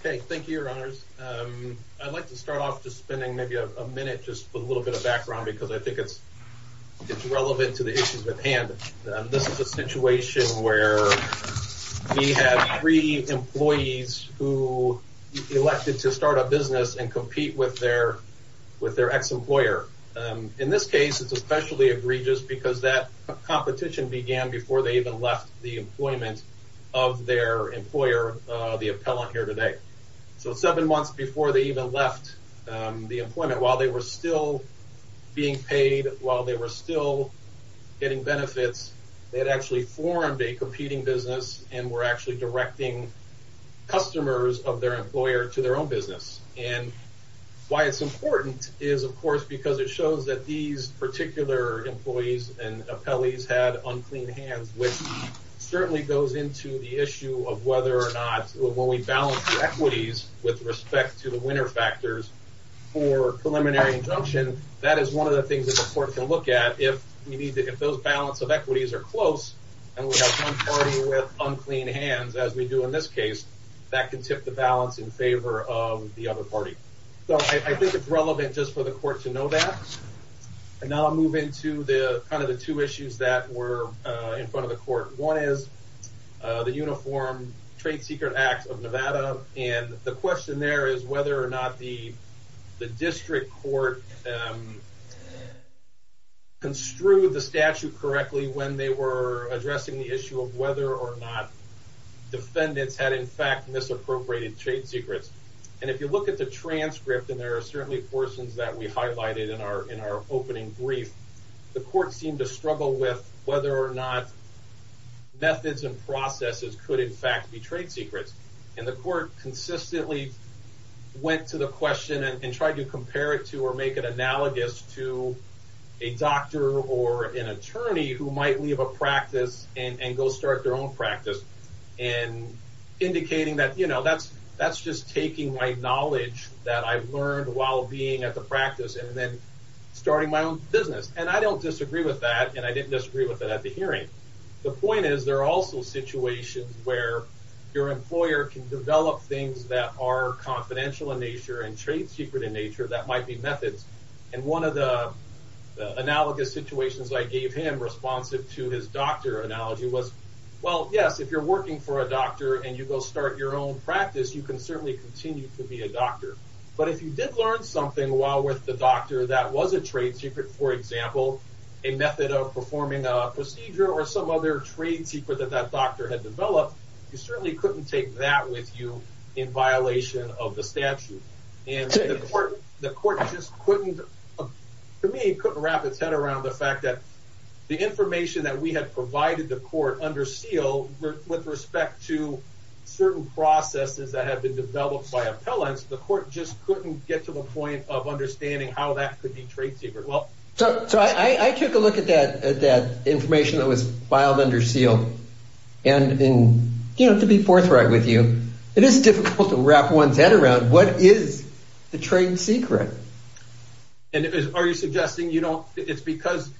Okay, thank you, your honors. I'd like to start off just spending maybe a minute just with a little bit of background, because I think it's, it's relevant to the issues at hand. This is a situation where we have three employees who elected to start a business and compete with their, with their ex employer. In this case, it's especially egregious, because that competition began before they even left the employment of their employer, the appellant here today. So seven months before they even left the employment, while they were still being paid, while they were still getting benefits, they had actually formed a competing business and were actually directing customers of their employer to their own business. And why it's important is, of course, because it shows that these particular employees and appellees had unclean hands, which certainly goes into the issue of whether or not, when we balance the equities with respect to the winner factors for preliminary injunction, that is one of the things that the court can look at if you need to, if those balance of equities are close, and we have one party with unclean hands, as we do in this case, that can tip the balance in favor of the other party. So I think it's relevant just for the court to know that. And now I'll move into the kind of the two issues that were in front of the court. One is the Uniform Trade Secret Act of Nevada, and the question there is whether or not the district court construed the statute correctly when they were addressing the issue of whether or not defendants had in fact misappropriated trade secrets. And if you look at the transcript, and there are certainly portions that we highlighted in our opening brief, the court seemed to struggle with whether or not methods and processes could in fact be trade secrets, and the court consistently went to the question and tried to compare it to or make it analogous to a doctor or an attorney who might leave a practice and go start their own practice, and indicating that, you know, that's just taking my knowledge that I've learned while being at the practice and then starting my own business. And I don't disagree with that, and I didn't disagree with it at the hearing. The point is, there are also situations where your employer can develop things that are confidential in nature and trade secret in nature that might be methods. And one of the analogous situations I gave him responsive to his doctor analogy was, well, yes, if you're working for a doctor, and you go start your own practice, you can certainly continue to be a doctor. But if you did learn something while with the doctor that was a trade secret, for example, a method of performing a procedure or some other trade secret that that doctor had developed, you certainly couldn't take that with you, in violation of the statute. And the court just couldn't, to me, couldn't wrap its head around the fact that the information that we had provided the court under seal with respect to certain processes that had been developed by appellants, the court just couldn't get to the point of understanding how that could be trade secret. I took a look at that information that was filed under seal. And to be forthright with you, it is difficult to wrap one's head around what is the trade secret. And are you suggesting it's because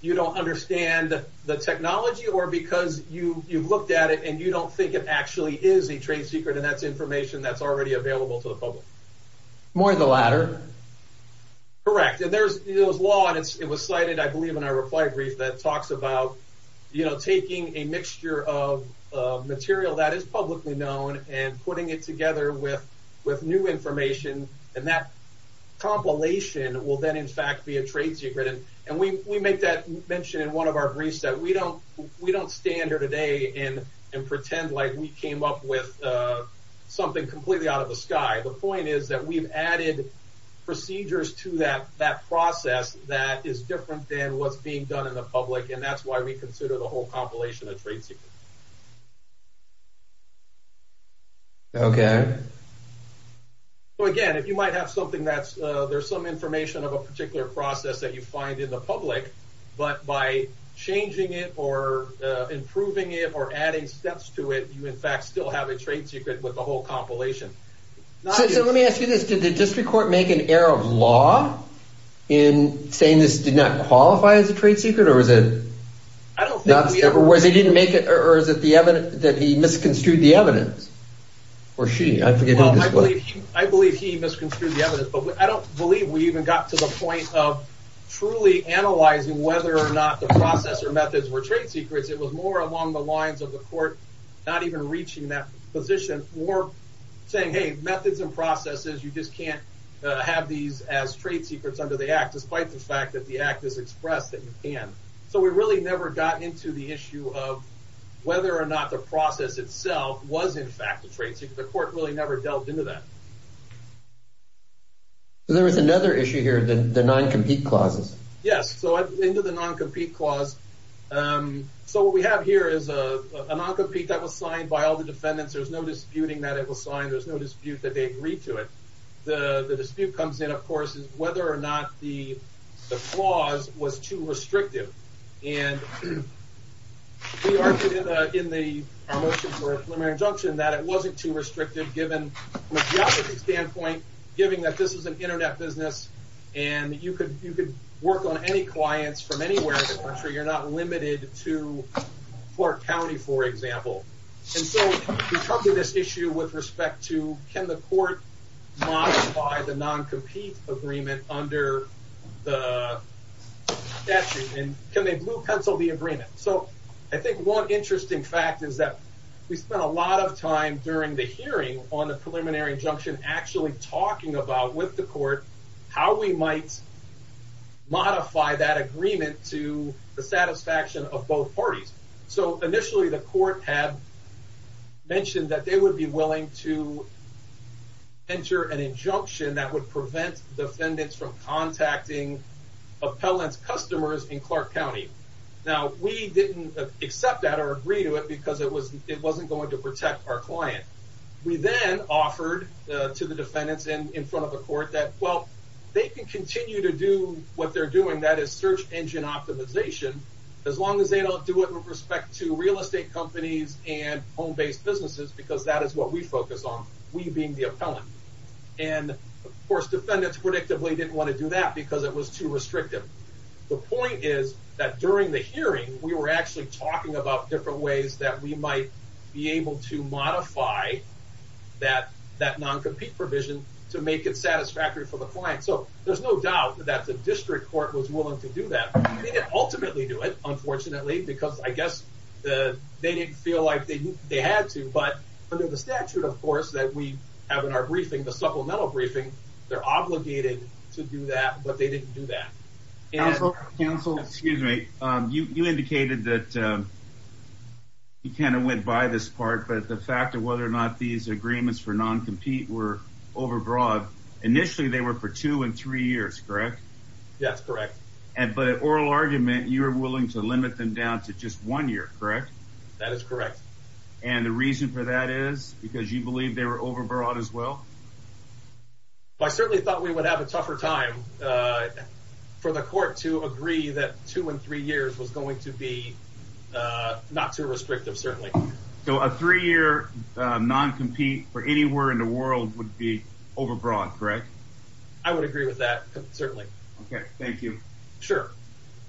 you don't understand the technology or because you've looked at it, and you don't think it actually is a trade secret, and that's information that's already available to the public? More the latter. Correct. And there's law, and it was cited, I believe, in our reply brief that talks about taking a mixture of material that is publicly known and putting it together with new information, and that compilation will then, in fact, be a trade secret. And we make that mention in one of our briefs, that we don't stand here today and pretend like we came up with something completely out of the sky. The point is that we've added procedures to that process that is different than what's being done in the public, and that's why we consider the whole compilation a trade secret. Okay. Well, again, if you might have something that's, there's some information of a particular process that you find in the public, but by changing it or improving it or adding steps to it, you, in fact, still have a trade secret with the whole compilation. So let me ask you this. Did the district court make an error of law in saying this did not qualify as a trade secret, or was it not, or was it that he misconstrued the evidence? Or she, I forget who it was. I believe he misconstrued the evidence, but I don't believe we even got to the point of truly analyzing whether or not the process or methods were trade secrets. It was more along the lines of the court not even reaching that position, or saying, hey, methods and processes, you just can't have these as trade secrets under the Act, despite the fact that the Act has expressed that you can. So we really never got into the issue of whether or not the process itself was, in fact, a trade secret. The court really never delved into that. There was another issue here, the non-compete clauses. Yes, so into the non-compete clause. So what we have here is a non-compete that was signed by all the defendants. There's no disputing that it was signed. There's no dispute that they agreed to it. The dispute comes in, of course, is whether or not the clause was too restrictive. And we argued in our motion for a preliminary injunction that it wasn't too restrictive, given the geography standpoint, given that this is an internet business, and you could work on any clients from anywhere in the country. You're not limited to Clark County, for example. And so we come to this issue with respect to, can the court modify the non-compete agreement under the statute? And can they blue pencil the agreement? So I think one interesting fact is that we spent a lot of time during the hearing on the preliminary injunction actually talking about, with the court, how we might modify that agreement to the satisfaction of both parties. So initially the court had mentioned that they would be willing to enter an injunction that would prevent defendants from contacting appellant's customers in Clark County. Now, we didn't accept that or agree to it because it wasn't going to protect our client. We then offered to the defendants in front of the court that, well, they can continue to do what they're doing, that is search engine optimization, as long as they don't do it with respect to real estate companies and home-based businesses, because that is what we focus on, we being the appellant. And, of course, defendants predictably didn't want to do that because it was too restrictive. The point is that during the hearing, we were actually talking about different ways that we might be able to modify that non-compete provision to make it satisfactory for the client. So there's no doubt that the district court was willing to do that. They didn't ultimately do it, unfortunately, because I guess they didn't feel like they had to, but under the statute, of course, that we have in our briefing, the supplemental briefing, they're obligated to do that, but they didn't do that. Counsel, excuse me, you indicated that you kind of went by this part, but the fact of whether or not these agreements for non-compete were overbroad, initially they were for two and three years, correct? Yes, correct. But in oral argument, you were willing to limit them down to just one year, correct? That is correct. And the reason for that is because you believe they were overbroad as well? I certainly thought we would have a tougher time for the court to agree that two and three years was going to be not too restrictive, certainly. So a three-year non-compete for anywhere in the world would be overbroad, correct? I would agree with that, certainly. Okay, thank you. Sure.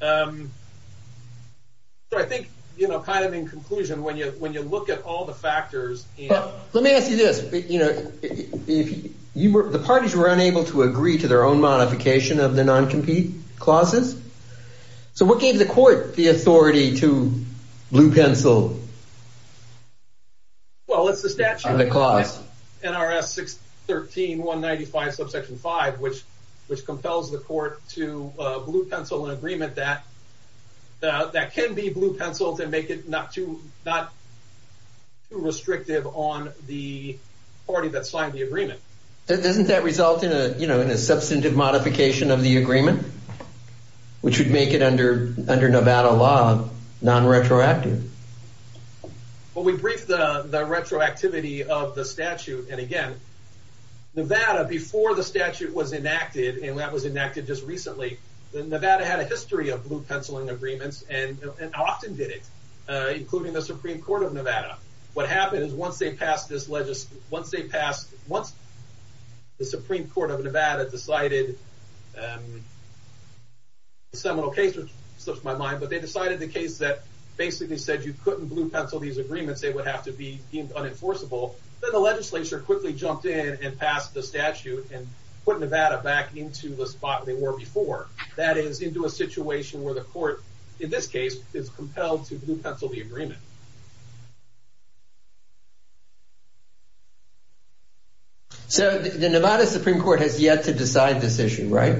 So I think kind of in conclusion, when you look at all the factors... Let me ask you this, the parties were unable to agree to their own modification of the non-compete clauses, so what gave the court the authority to blue pencil? Well, it's the statute of the clause. NRS 613.195, subsection 5, which compels the court to blue pencil an agreement that can be blue penciled and make it not too restrictive on the party that signed the agreement. Doesn't that result in a substantive modification of the agreement, which would make it under Nevada law non-retroactive? Well, we briefed the retroactivity of the statute, and again, Nevada, before the statute was enacted, and that was enacted just recently, Nevada had a history of blue penciling agreements and often did it, including the Supreme Court of Nevada. What happened is once they passed this... Once the Supreme Court of Nevada decided... A seminal case slips my mind, but they decided the case that basically said you couldn't blue pencil these agreements, they would have to be deemed unenforceable. Then the legislature quickly jumped in and passed the statute and put Nevada back into the spot they were before. That is, into a situation where the court, in this case, is compelled to blue pencil the agreement. So the Nevada Supreme Court has yet to decide this issue, right?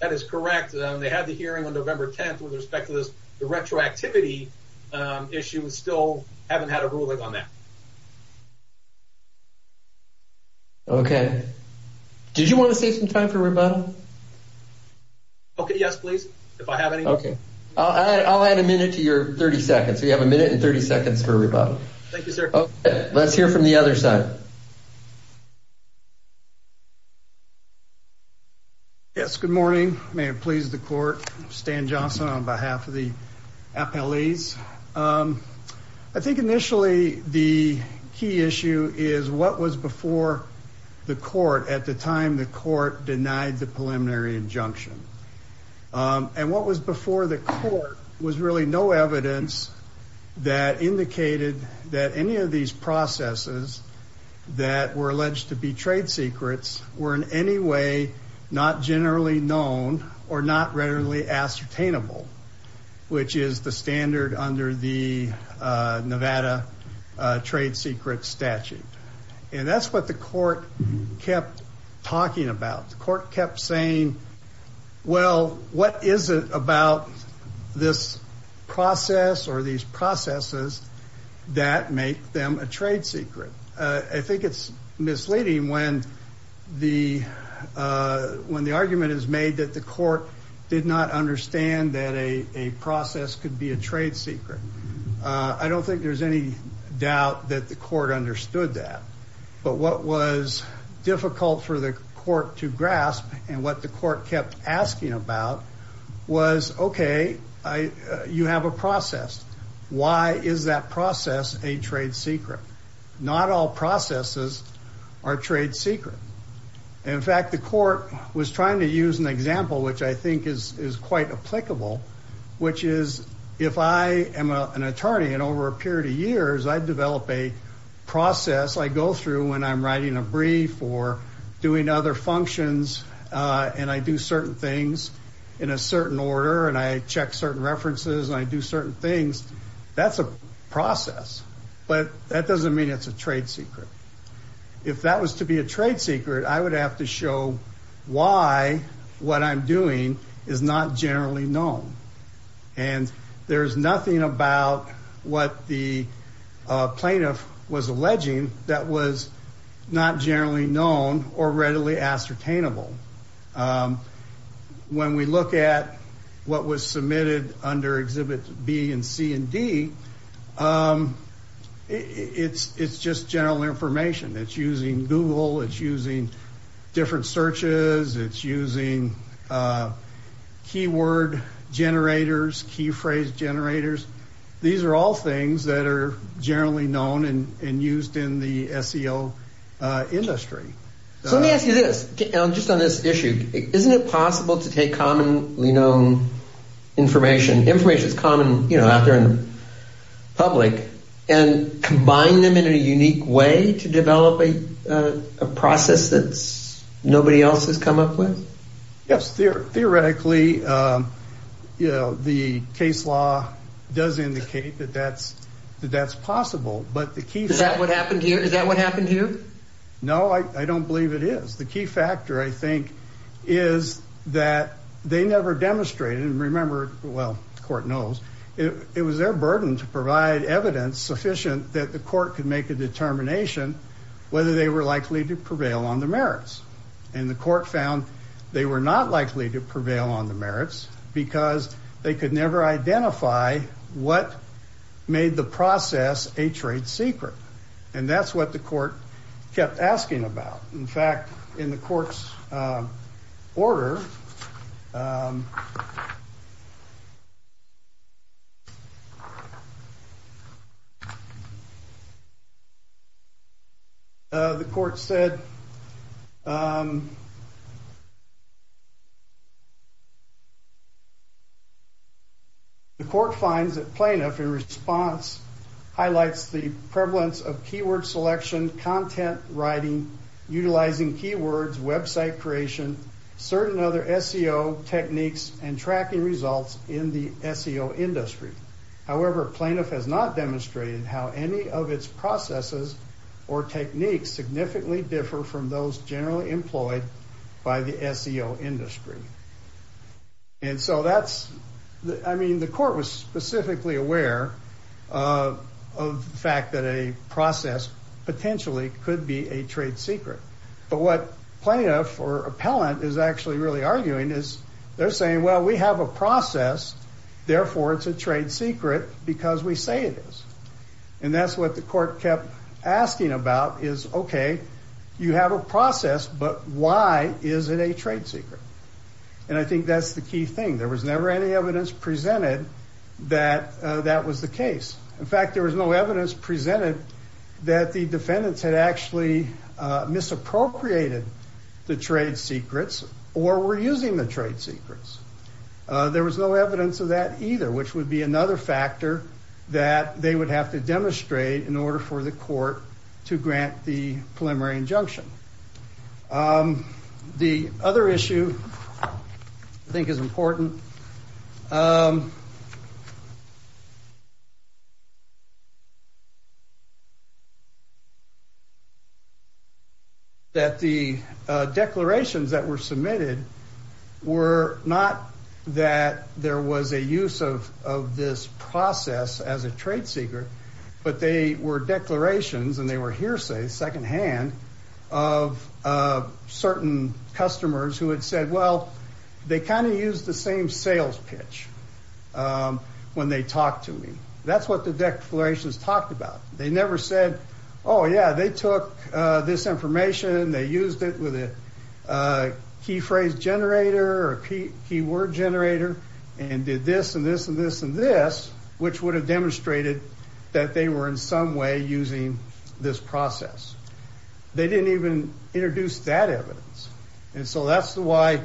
That is correct. They had the hearing on November 10th. With respect to this retroactivity issue, we still haven't had a ruling on that. Okay. Did you want to save some time for rebuttal? Okay, yes, please, if I have any. Okay. I'll add a minute to your 30 seconds. We have a minute and 30 seconds for rebuttal. Thank you, sir. Let's hear from the other side. Yes, good morning. May it please the court. Stan Johnson on behalf of the appellees. I think initially the key issue is what was before the court at the time the court denied the preliminary injunction. And what was before the court was really no evidence that indicated that any of these processes that were alleged to be trade secrets were in any way not generally known or not readily ascertainable, which is the standard under the Nevada trade secret statute. And that's what the court kept talking about. The court kept saying, well, what is it about this process or these processes that make them a trade secret? I think it's misleading when the when the argument is made that the court did not understand that a process could be a trade secret. I don't think there's any doubt that the court understood that. But what was difficult for the court to grasp and what the court kept asking about was, okay, you have a process. Why is that process a trade secret? Not all processes are trade secret. In fact, the court was trying to use an example, which I think is is quite applicable, which is if I am an attorney and over a period of years, I develop a process. I go through when I'm writing a brief or doing other functions and I do certain things in a certain order and I check certain references and I do certain things. That's a process. But that doesn't mean it's a trade secret. If that was to be a trade secret, I would have to show why what I'm doing is not generally known. And there is nothing about what the plaintiff was alleging that was not generally known or readily ascertainable. When we look at what was submitted under Exhibit B and C and D, it's just general information. It's using Google. It's using different searches. It's using keyword generators, key phrase generators. These are all things that are generally known and used in the SEO industry. So let me ask you this, just on this issue. Isn't it possible to take commonly known information, information that's common out there in the public, and combine them in a unique way to develop a process that nobody else has come up with? Yes. Theoretically, the case law does indicate that that's possible. Is that what happened to you? No, I don't believe it is. The key factor, I think, is that they never demonstrated, and remember, well, the court knows, it was their burden to provide evidence sufficient that the court could make a determination whether they were likely to prevail on the merits. And the court found they were not likely to prevail on the merits because they could never identify what made the process a trade secret. And that's what the court kept asking about. In fact, in the court's order, the court said, the court finds that plaintiff in response highlights the prevalence of keyword selection, content writing, utilizing keywords, website creation, certain other SEO techniques, and tracking results in the SEO industry. However, plaintiff has not demonstrated how any of its processes or techniques significantly differ from those generally employed by the SEO industry. And so that's, I mean, the court was specifically aware of the fact that a process potentially could be a trade secret. But what plaintiff or appellant is actually really arguing is they're saying, well, we have a process. Therefore, it's a trade secret because we say it is. And that's what the court kept asking about is, OK, you have a process, but why is it a trade secret? And I think that's the key thing. There was never any evidence presented that that was the case. In fact, there was no evidence presented that the defendants had actually misappropriated the trade secrets or were using the trade secrets. There was no evidence of that either, which would be another factor that they would have to demonstrate in order for the court to grant the preliminary injunction. The other issue I think is important. That the declarations that were submitted were not that there was a use of this process as a trade secret, but they were declarations and they were hearsay secondhand of certain customers who had said, well, they kind of used the same sales pitch when they talked to me. That's what the declarations talked about. They never said, oh, yeah, they took this information and they used it with a key phrase generator or key word generator and did this and this and this and this, which would have demonstrated that they were in some way using this process. They didn't even introduce that evidence. And so that's why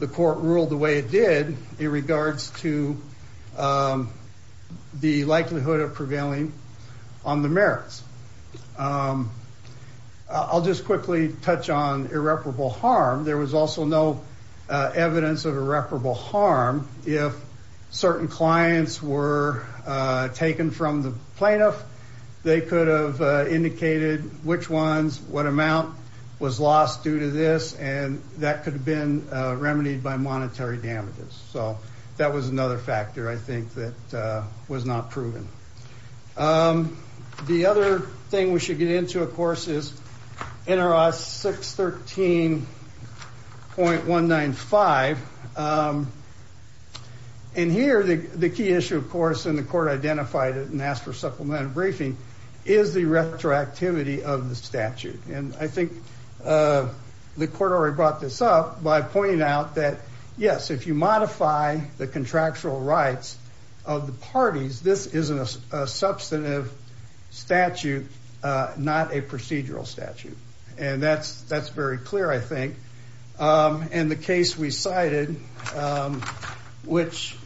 the court ruled the way it did in regards to the likelihood of prevailing on the merits. I'll just quickly touch on irreparable harm. There was also no evidence of irreparable harm. If certain clients were taken from the plaintiff, they could have indicated which ones, what amount was lost due to this and that could have been remedied by monetary damages. So that was another factor, I think, that was not proven. The other thing we should get into, of course, is NRS 613.195. And here, the key issue, of course, and the court identified it and asked for supplementary briefing, is the retroactivity of the statute. And I think the court already brought this up by pointing out that, yes, if you modify the contractual rights of the parties, this is a substantive statute, not a procedural statute. And that's very clear, I think. And the case we cited, which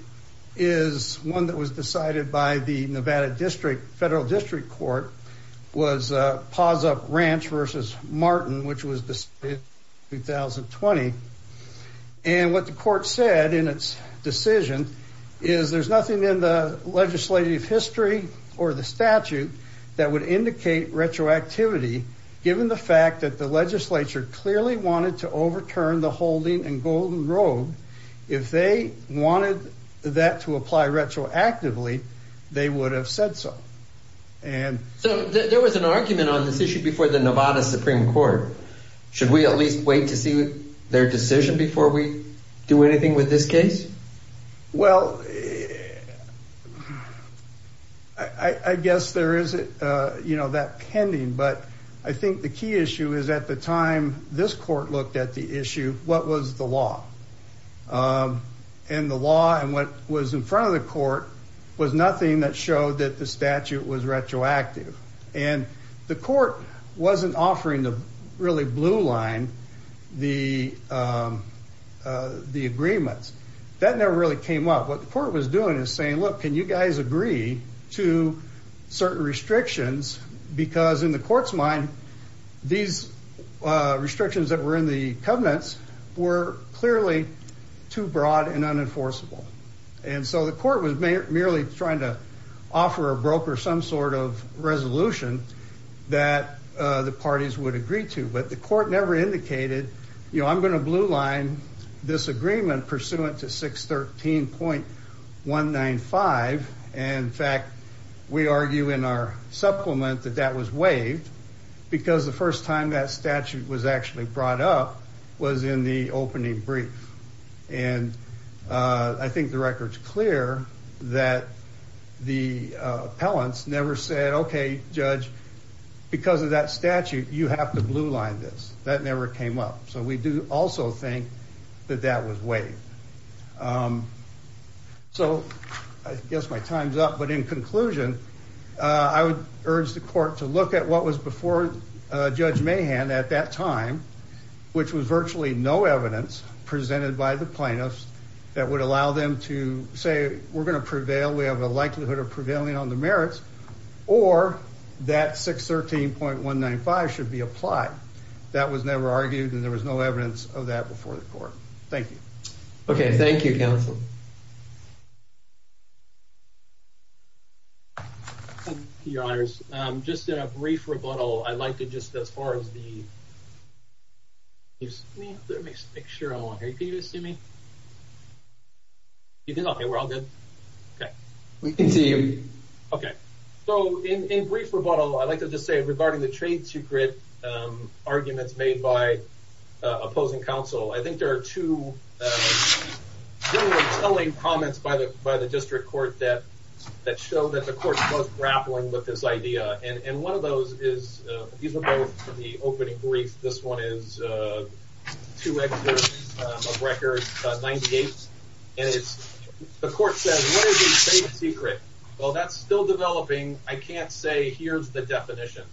is one that was decided by the Nevada Federal District Court, was Pazup Ranch v. Martin, which was decided in 2020. And what the court said in its decision is there's nothing in the legislative history or the statute that would indicate retroactivity, given the fact that the legislature clearly wanted to overturn the holding in Golden Road. If they wanted that to apply retroactively, they would have said so. So there was an argument on this issue before the Nevada Supreme Court. Should we at least wait to see their decision before we do anything with this case? Well, I guess there is that pending. But I think the key issue is at the time this court looked at the issue, what was the law? And the law and what was in front of the court was nothing that showed that the statute was retroactive. And the court wasn't offering the really blue line, the agreements. That never really came up. What the court was doing is saying, look, can you guys agree to certain restrictions? Because in the court's mind, these restrictions that were in the covenants were clearly too broad and unenforceable. And so the court was merely trying to offer a broker some sort of resolution that the parties would agree to. But the court never indicated, you know, I'm going to blue line this agreement pursuant to 613.195. And in fact, we argue in our supplement that that was waived because the first time that statute was actually brought up was in the opening brief. And I think the record's clear that the appellants never said, OK, judge, because of that statute, you have to blue line this. That never came up. So we do also think that that was waived. So I guess my time's up. But in conclusion, I would urge the court to look at what was before Judge Mahan at that time, which was virtually no evidence presented by the plaintiffs that would allow them to say we're going to prevail. We have a likelihood of prevailing on the merits or that 613.195 should be applied. That was never argued and there was no evidence of that before the court. Thank you. OK, thank you, counsel. Your Honors, just a brief rebuttal. I'd like to just as far as the. Let me make sure I want you to see me. You know, we're all good. We can see you. OK, so in a brief rebuttal, I'd like to just say regarding the trade secret arguments made by opposing counsel. I think there are two really telling comments by the by the district court that that show that the court was grappling with this idea. And one of those is these are both the opening brief. This one is to record 98. And it's the court said, what is the trade secret? Well, that's still developing. I can't say here's the definition.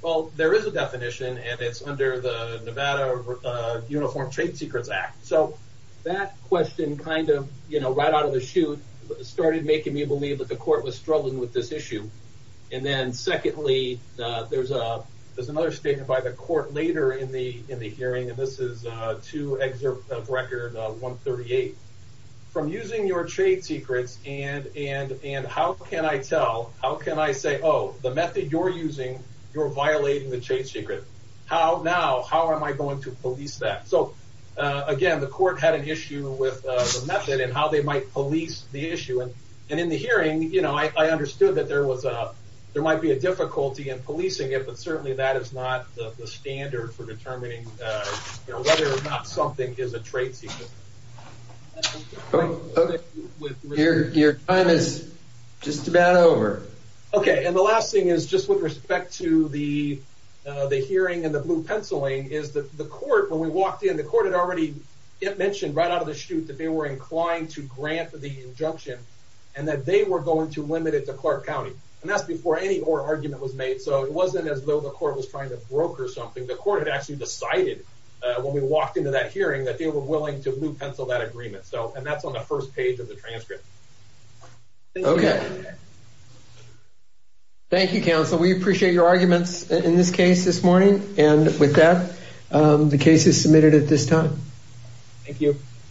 Well, there is a definition and it's under the Nevada Uniform Trade Secrets Act. So that question kind of, you know, right out of the chute started making me believe that the court was struggling with this issue. And then secondly, there's a there's another statement by the court later in the in the hearing. And this is to exert record 138 from using your trade secrets. And and and how can I tell how can I say, oh, the method you're using, you're violating the trade secret. How now, how am I going to police that? So, again, the court had an issue with the method and how they might police the issue. And in the hearing, you know, I understood that there was a there might be a difficulty in policing it. But certainly that is not the standard for determining whether or not something is a trade secret. Oh, your time is just about over. OK. And the last thing is just with respect to the the hearing and the blue penciling is that the court when we walked in, the court had already mentioned right out of the chute that they were inclined to grant the injunction and that they were going to limit it to Clark County. And that's before any more argument was made. So it wasn't as though the court was trying to broker something. The court had actually decided when we walked into that hearing that they were willing to blue pencil that agreement. So and that's on the first page of the transcript. OK. Thank you, counsel. We appreciate your arguments in this case this morning. And with that, the case is submitted at this time. Thank you.